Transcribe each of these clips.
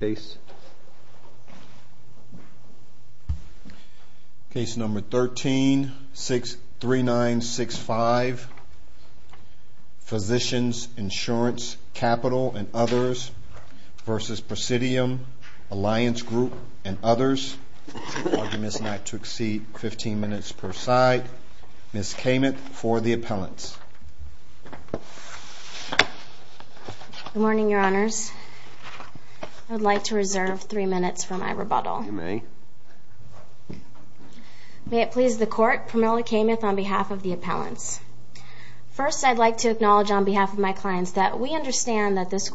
case number 13 63965 Physi and others versus Presid and others arguments not per side. Miss came in fo appellants. Good morning, to reserve three minutes May. May it please the co on behalf of the appellan to acknowledge on behalf we understand that this c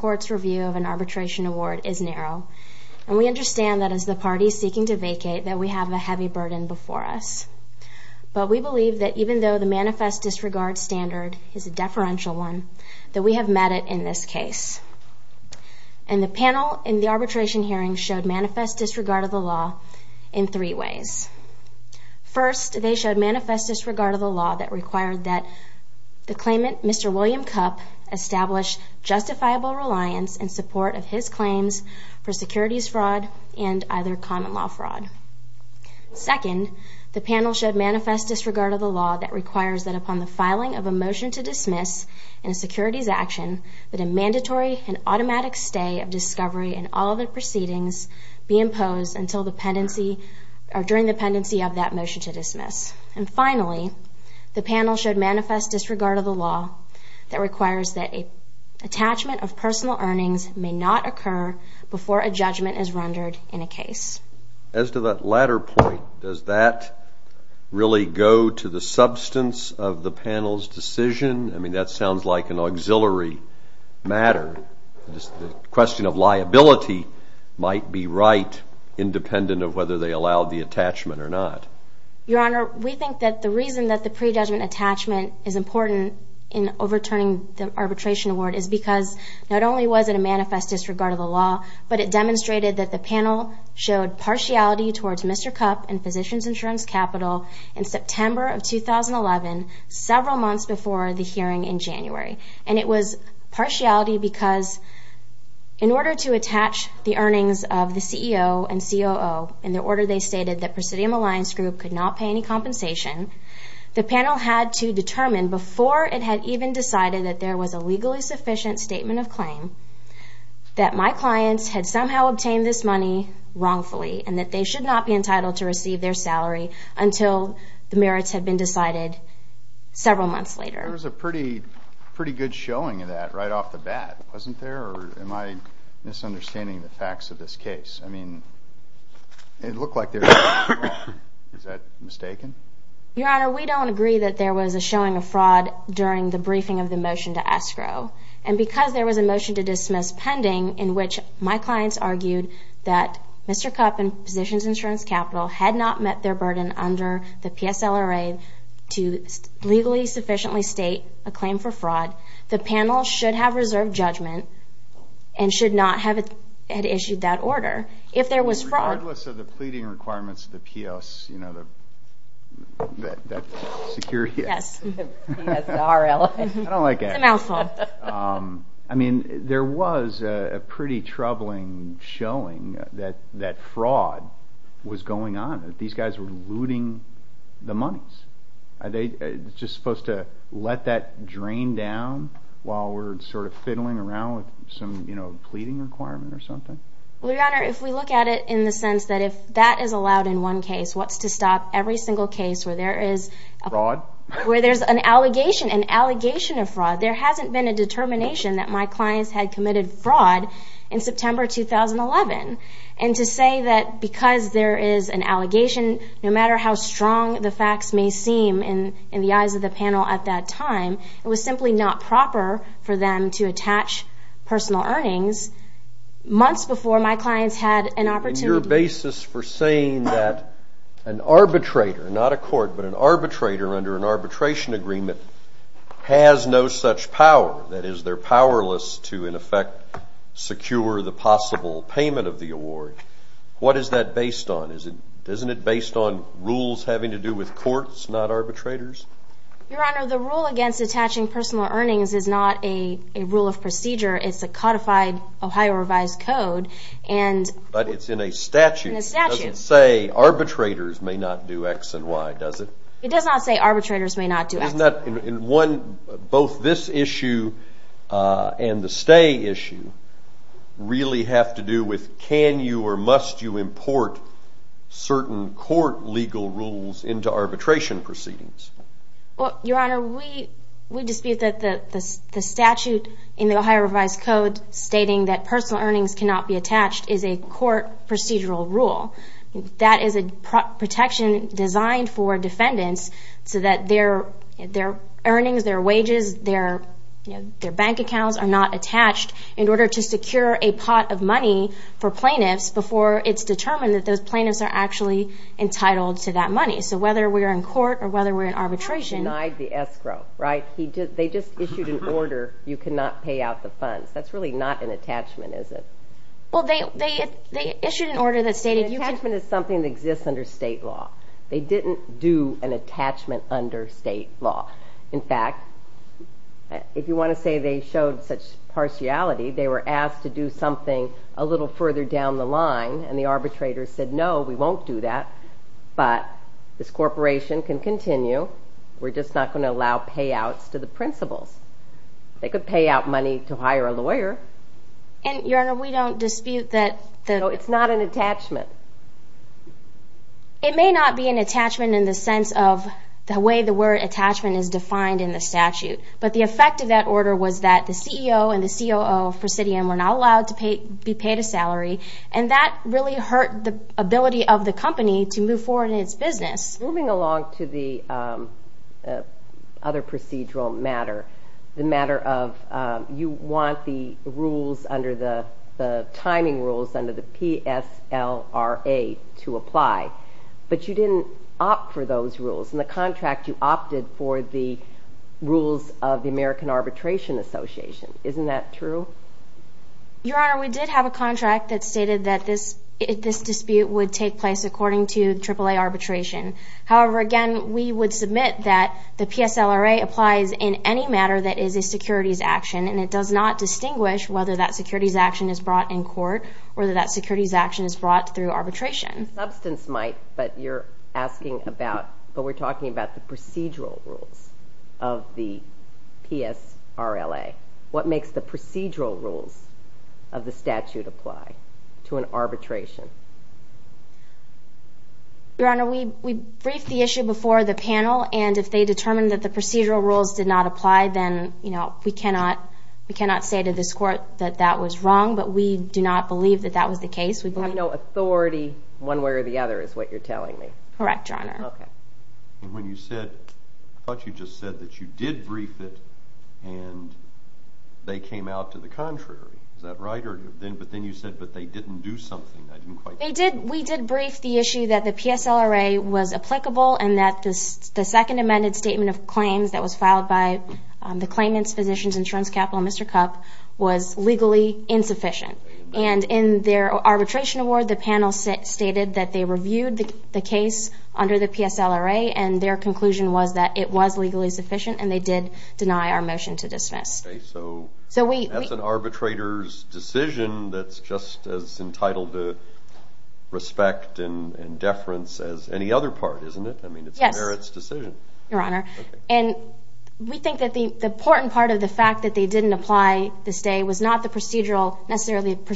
an arbitration award is n that is the party seeking we have a heavy burden be But we believe that even disregard standard is a d we have met it in this cas in the arbitration hearing of the law in three ways. manifest disregard of the that the claimant Mr Will reliance and support of h fraud and either common l Second, the panel should of the law that requires of a motion to dismiss in that a mandatory and autom and all the proceedings b pendency or during the pe to dismiss. And finally, disregard of the law that of personal earnings may judgment is rendered in a Does that really go to th panel's decision? I mean, auxiliary matter. Just th might be right, independe the attachment or not. Yo that the reason that the is important in overturni award is because not only disregard of the law, but panel showed partiality t and Physicians Insurance of 2011, several months b January. And it was parti to attach the earnings of the order, they stated th group could not pay any c had to determine before i that there was a legally of claim that my clients this money wrongfully and be entitled to receive th the merits have been deci later. It was a pretty, p of that right off the bat am I misunderstanding the I mean, it looked like th mistaken? Your honor, we there was a showing of fra of the motion to escrow a was a motion to dismiss p argued that Mr. Cup and P capital had not met their P. S. L. R. A. To legally a claim for fraud. The pa judgment and should not h order. If there was fraud requirements of the P. O. the security. Yes, I don' fault. Um, I mean, there showing that that fraud w guys were looting the mon supposed to let that drain of fiddling around with s requirement or something. look at it in the sense t out in one case. What's t case where there is where an allegation of fraud. T determination that my cli in September 2011. And to there is an allegation, n the facts may seem in the at that time, it was simp them to attach personal e before my clients had an for saying that an arbit an arbitrator under an ar has no such power. That i to in effect secure the p the award. What is that b it based on rules having arbitrators? Your honor, attaching personal earnin of procedure. It's a codi code. And but it's in a s say arbitrators may not d It does not say arbitrato not in one, both this iss issue really have to do w you import certain court arbitration proceedings? Well, your honor, we we d the statute in the Ohio R that personal earnings ca is a court procedural rul designed for defendants s earnings, their wages, th accounts are not attached a pot of money for plaint that those plaintiffs are to that money. So whether or whether we're in arbit escrow, right? He did. Th You cannot pay out the fu not an attachment, is it? an order that stated you that exists under state l an attachment under state want to say they showed s were asked to do somethi down the line and the arb won't do that. But this c We're just not going to a principles. They could pa a lawyer. And your honor, that it's not an attachme be an attachment in the s word attachment is defini But the effect of that or and the C. O. O. Presidio to pay be paid a salary a of the company to move fo moving along to the um uh matter. The matter of uh, under the timing rules, u to apply. But you didn't And the contract you opte of the American Arbitrati isn't that true? Your hon that stated that this, th place according to the tri again, we would submit th in any matter that is a s it does not distinguish w action is brought in court action is brought through might, but you're asking about the procedural rules of the P. S. R. L. A. Wha rules of the statute appl Your honor, we briefed the panel and if they determi rules did not apply, then cannot say to this court but we do not believe that We've got no authority. O is what you're telling me correct. John. Okay. When you just said that you di came out to the contrary. But then you said, but th I didn't quite. They did. that the P. S. L. R. A. W that the second amended s that was filed by the cla insurance capital. Mr. Cu and in their arbitration panel stated that they re the P. S. L. R. A. And th that it was legally suffi our motion to dismiss. So decision that's just as e and deference as any othe mean, it's a merits decis we think that the importa that they didn't apply th procedural necessarily pro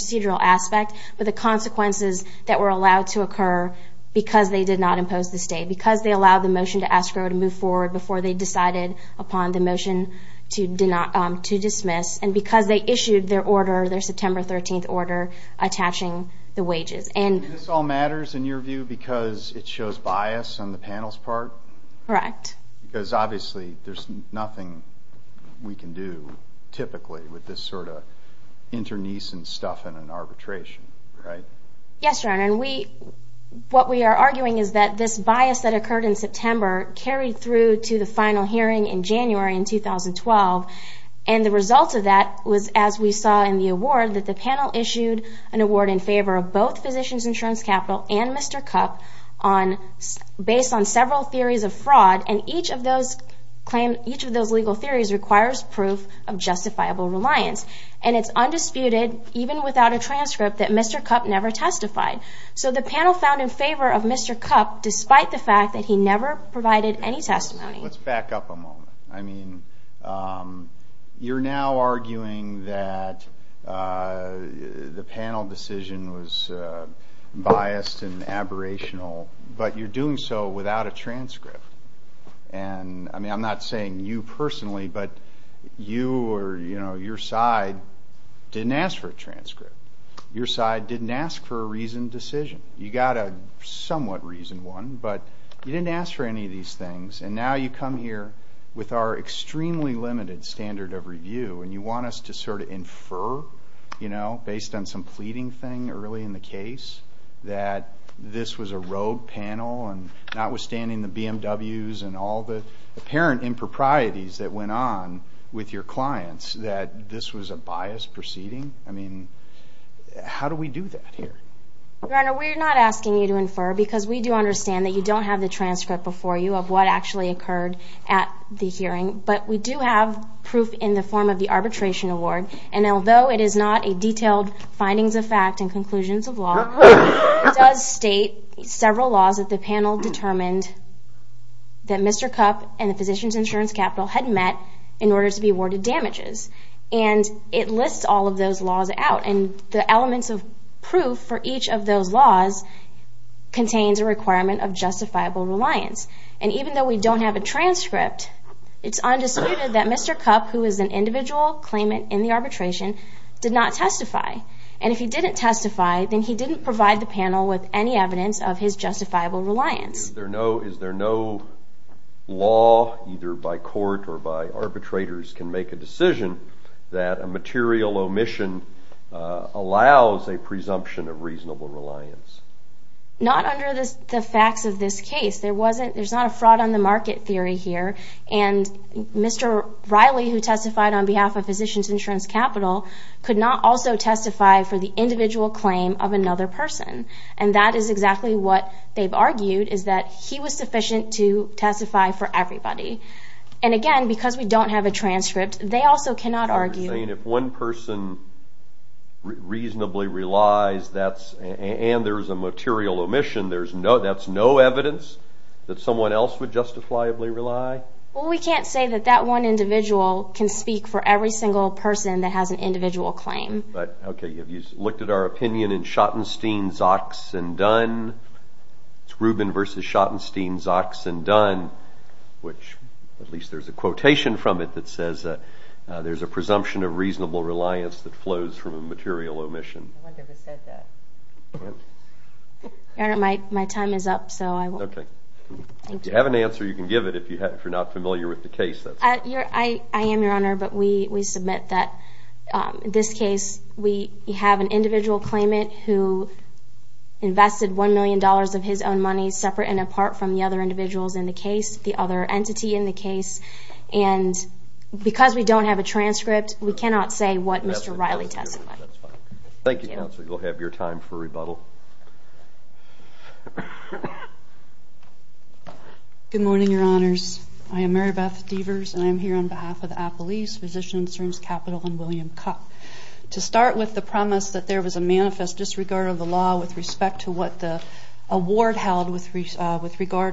but the consequences that because they did not impo they allowed the motion t forward before they decid to do not to dismiss. And their order, their septemb the wages. And this all m because it shows bias on because obviously there's typically with this sort and stuff in an arbitratio And we, what we are argui that occurred in september the final hearing in Janu results of that was as we the panel issued an award insurance capital and Mr. theories of fraud. And eac each of those legal theori of justifiable reliance. even without a transcript testified. So the panel f cup, despite the fact tha any testimony. Let's back now arguing that uh the p biased and aberrational, without a transcript. And you personally, but you o side didn't ask for a tra didn't ask for a reasoned reason one, but you didn' things. And now you come limited standard of revie to sort of infer, you kno thing early in the case t panel and notwithstanding the BMWs and all the appa that went on with your cl a biased proceeding. I me that here? Your honor, we to infer because we do un don't have the transcript actually occurred at the do have proof in the form award. And although it is of fact and conclusions o several laws that the pan Mr Cup and the physician' had met in order to be aw it lists all of those law of proof for each of those requirement of justifiable though we don't have a tr that Mr Cup, who is an in the arbitration, did not he didn't testify, then h any evidence of his justi there? No. Is there no la or by arbitrators can mak a material omission allow of reasonable reliance? N of this case. There wasn' on the market theory here who testified on behalf o capital could not also te claim of another person. what they've argued is th to testify for everybody. we don't have a transcript argue saying if one perso that's and there's a mater no, that's no evidence th would justifiably rely. W that one individual can s person that has an individ Okay. Have you looked at Schottenstein's ox and do Schottenstein's ox and do there's a quotation from a presumption of reasonabl from a material omission. is up. So I have an answe if you're not familiar wit I am your honor, but we s case, we have an individua $1 million of his own mon from the other individual entity in the case. And b a transcript, we cannot s testifying. Thank you. Co time for rebuttal. Good m I am Mary Beth Deavers an of the Apple East Physici and William Cup. To start that there was a manifest law with respect to what with regard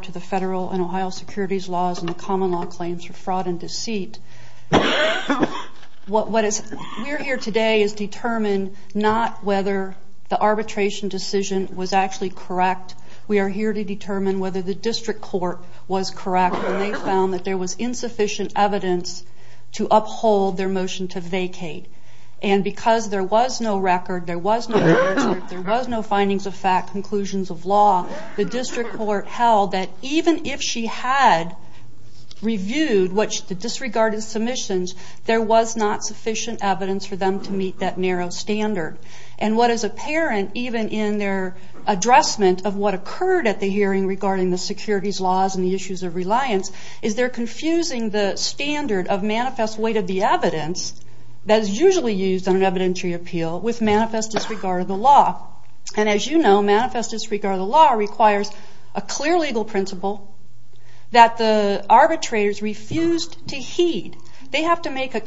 to the federa laws and the common law c deceit. What what is we'r not whether the arbitrati correct. We are here to d the district court was co that there was insufficien to uphold their motion to there was no record, ther was no findings of fact, The district court held t reviewed what the disrega was not sufficient evidenc that narrow standard. And even in their addressment at the hearing regarding and the issues of relianc of manifest weight of the used on an evidentiary ap disregard of the law. And disregard of the law requ principle that the arbitr heed. They have to make a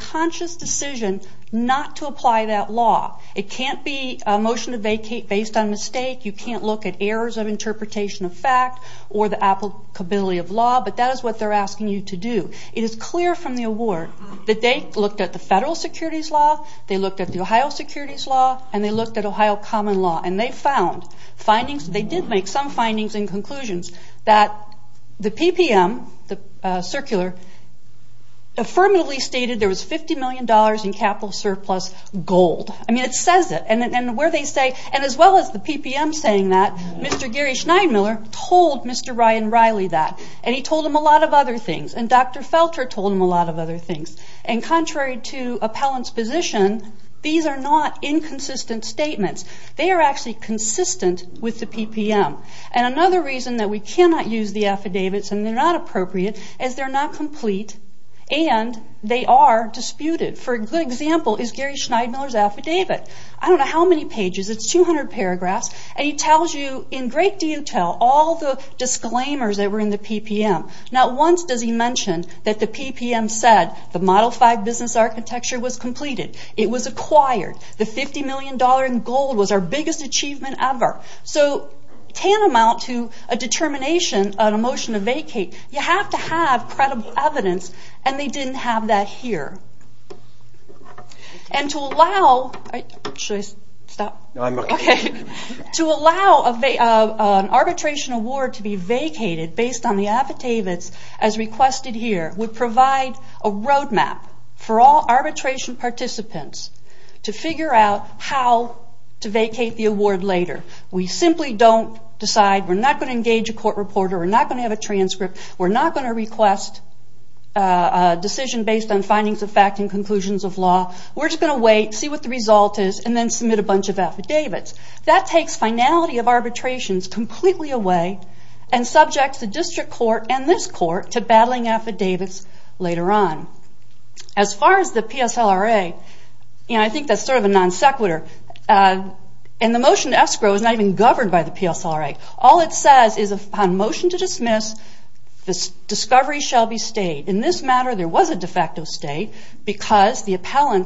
not to apply that law. It vacate based on mistake. of interpretation of fact of law. But that is what you to do. It is clear fr they looked at the federa they looked at the Ohio s they looked at Ohio common findings. They did make s that the P. P. M. Circula there was $50 million in I mean it says it and wher as well as the P. P. M. S Gary Schneidemiller told that. And he told him a l and Dr Felter told him a l and contrary to appellant are not inconsistent stat consistent with the P. P. that we cannot use the aff not appropriate as they'r they are disputed for a g Schneidemiller's affidavi pages. It's 200 paragraphs in great detail. All the in the P. P. M. Not once d the P. P. M. Said the mod was completed. It was acq dollar in gold was our bi So tantamount to a determ to vacate, you have to ha and they didn't have that to allow, should I stop? arbitration award to be v affidavits as requested h a road map for all arbitr to figure out how to vacat We simply don't decide we a court reporter. We're n a transcript. We're not g decision based on findings of law. We're just gonna is and then submit a bunc takes finality of arbitra away and subjects the dis court to battling affidav far as the P. S. L. R. A. sort of a non sequitur. U escrow is not even govern it says is a motion to di shall be stayed in this m state because the appellan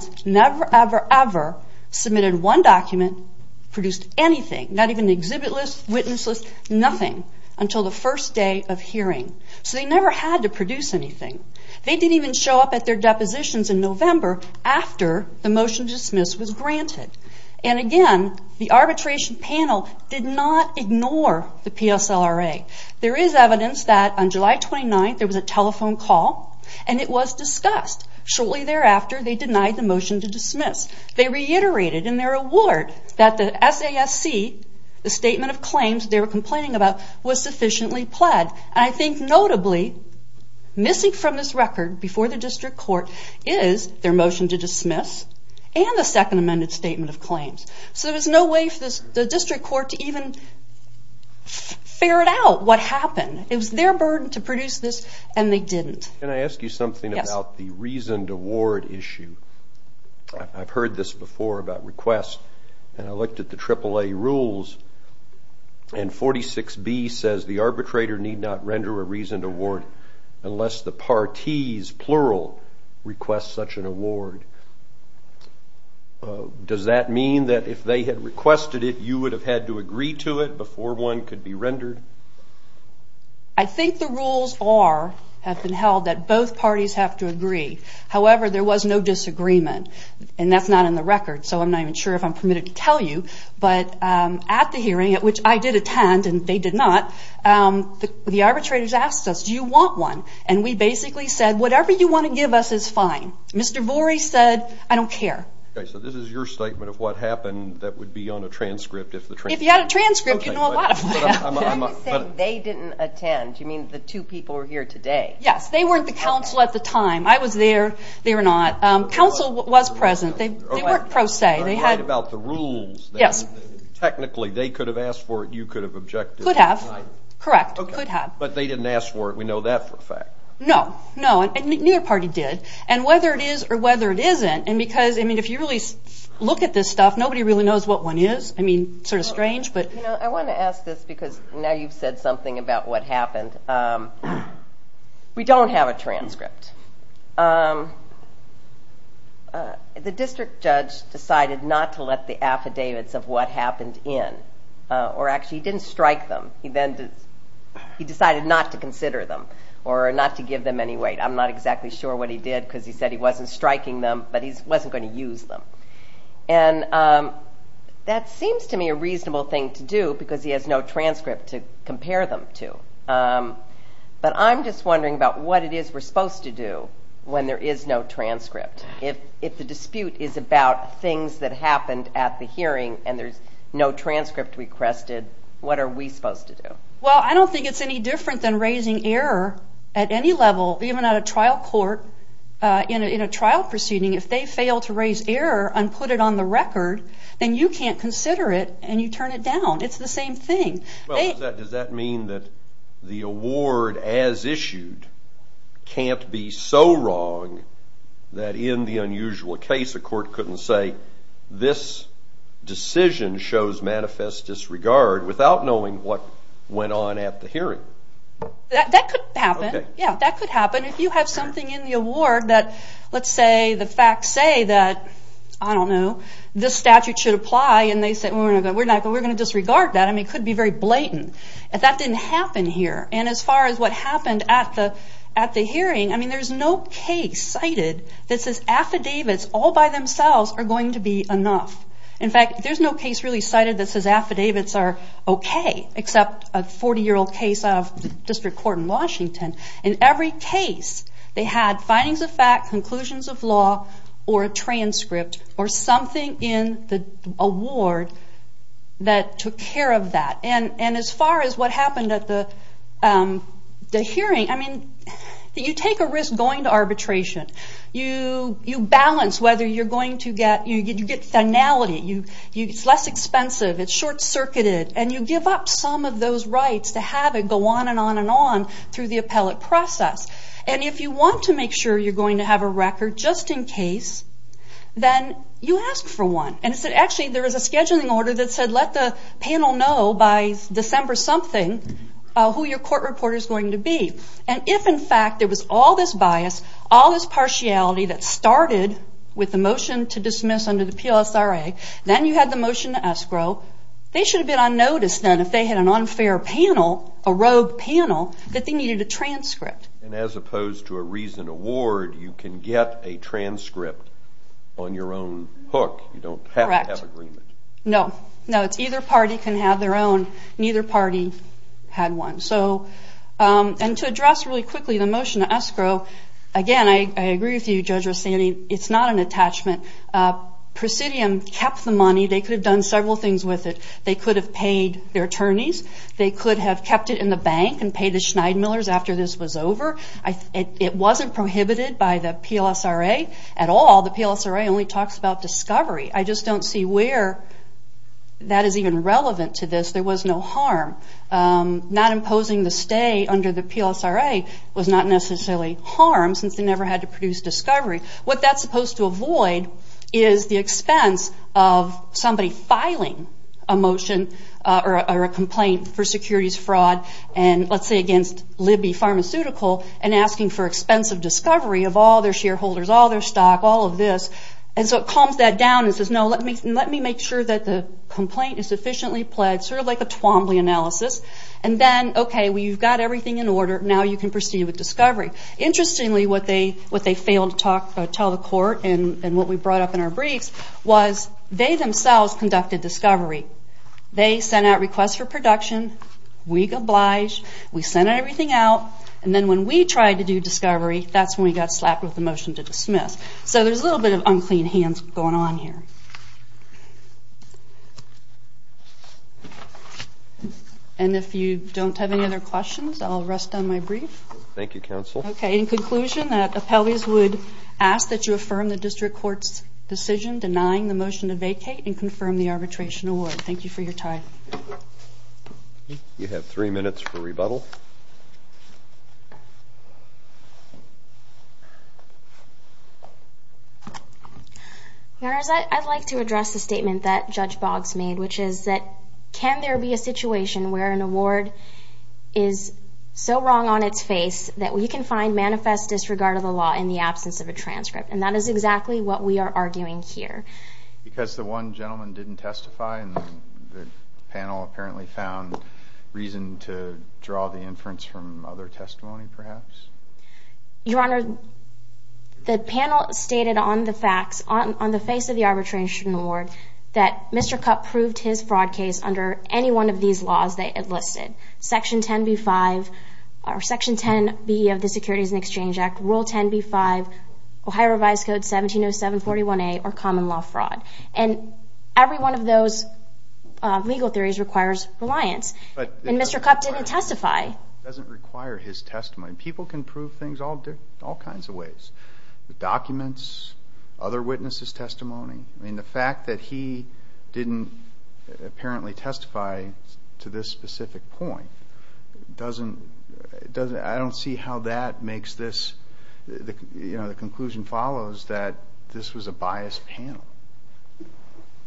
one document produced any list, witness list, nothi day of hearing. So they n anything. They didn't eve in november after the mot granted. And again, the a not ignore the P. S. L. R. that on july 29 there was and it was discussed. Shu they denied the motion to in their award that the S claims they were complain pled. And I think notably record before the district to dismiss and the second of claims. So there's no court to even fair it out It was their burden to pr didn't. Can I ask you som award issue? I've heard t and I looked at the triple B says the arbitrator nee award unless the parties an award. Does that mean it, you would have had to be rendered? I think the held that both parties ha there was no disagreement the record. So I'm not ev to tell you. But at the h attend and they did not. asked us, do you want one said, whatever you want t Mr. Vori said, I don't ca your statement of what ha be on a transcript. If th a transcript, you know, a didn't attend. You mean t today? Yes, they weren't I was there, they were no They weren't pro se. They rules. Yes, technically t for it. You could have ob could have, but they didn that for a fact. No, no, did. And whether it is or because, I mean, if you r stuff, nobody really knows I mean, sort of strange, to ask this because now y about what happened. Um, Um, uh, the district jud the affidavits of what ha he didn't strike them. He not to consider them or n weight. I'm not exactly s he said he wasn't strikin That seems to me a reason he has no transcript to c I'm just wondering about to do when there is no tr dispute is about things t hearing and there's no tr what are we supposed to d it's any different than r level, even at a trial cou proceeding, if they fail on the record, then you c you turn it down. It's th does that mean that the a be so wrong that in the u couldn't say this decisio disregard without knowing the hearing. That could h happen if you have someth let's say the facts say t statute should apply and not, we're going to disre be very blatant if that d And as far as what happen I mean, there's no case s all by themselves are goi fact, there's no case rea affidavits are okay except out of district court in case they had findings of of law or a transcript or award that took care of t is what happened at the h take a risk going to arbi whether you're going to g you, it's less expensive, and you give up some of t go on and on and on throu And if you want to make s have a record just in cas one. And it's actually th order that said, let the something who your court be. And if in fact there all this partiality that to dismiss under the PLS. motion to escrow, they sh had an unfair panel, a ro needed a transcript. And award, you can get a tran hook. You don't have to h it's either party can have party had one. So, um, an quickly, the motion to es with you, Judge Rustani, Uh, Presidium kept the mo have done several things they could have paid thei could have kept it in the Schneidemillers after thi prohibited by the PLS. R. only talks about discover see where that is even re was no harm. Um, not impo the PLS. R. A. Was not ne they never had to produce supposed to avoid is the filing a motion or a comp fraud and let's say again and asking for expensive their shareholders, all t of this. And so it calms no, let me let me make su is sufficiently pledged, analysis. And then, okay, in order. Now you can pro Interestingly, what they talk, tell the court and up in our briefs was they discovery. They sent out We oblige, we sent everyt when we tried to do disco got slapped with the moti there's a little bit of u on here. And if you don't I'll rest on my brief. Th Okay. In conclusion that ask that you affirm the d denying the motion to vac the arbitration award. Th time. You have three minu whereas I'd like to addre Judge Boggs made, which i be a situation where an a on its face that we can f law in the absence of a t is exactly what we are ar the one gentleman didn't apparently found reason t from other testimony. Per the panel stated on the f of the arbitration award his fraud case under any they enlisted section 10 or section 10 B of the Se Act Rule 10 B five Ohio R 7 41 A or common law frau of those legal theories r and Mr. Cup didn't testif his testimony. People can kinds of ways. The docume testimony. I mean the fac didn't apparently testifi point doesn't doesn't I d makes this, you know, the that this was a biased pa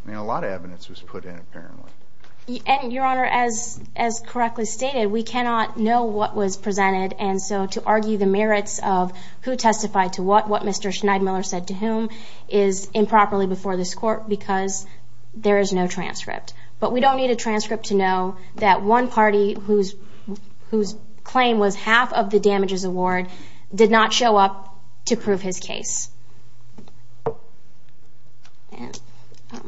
was put in apparently. An correctly stated, we cann presented. And so to argu who testified to what, wh said to whom is improperl because there is no trans need a transcript to know whose whose claim was hal award did not show up to And um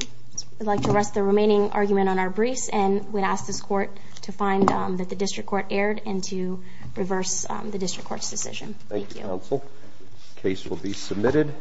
I'd like to rest t on our briefs and we'd as that the district court a the district court's deci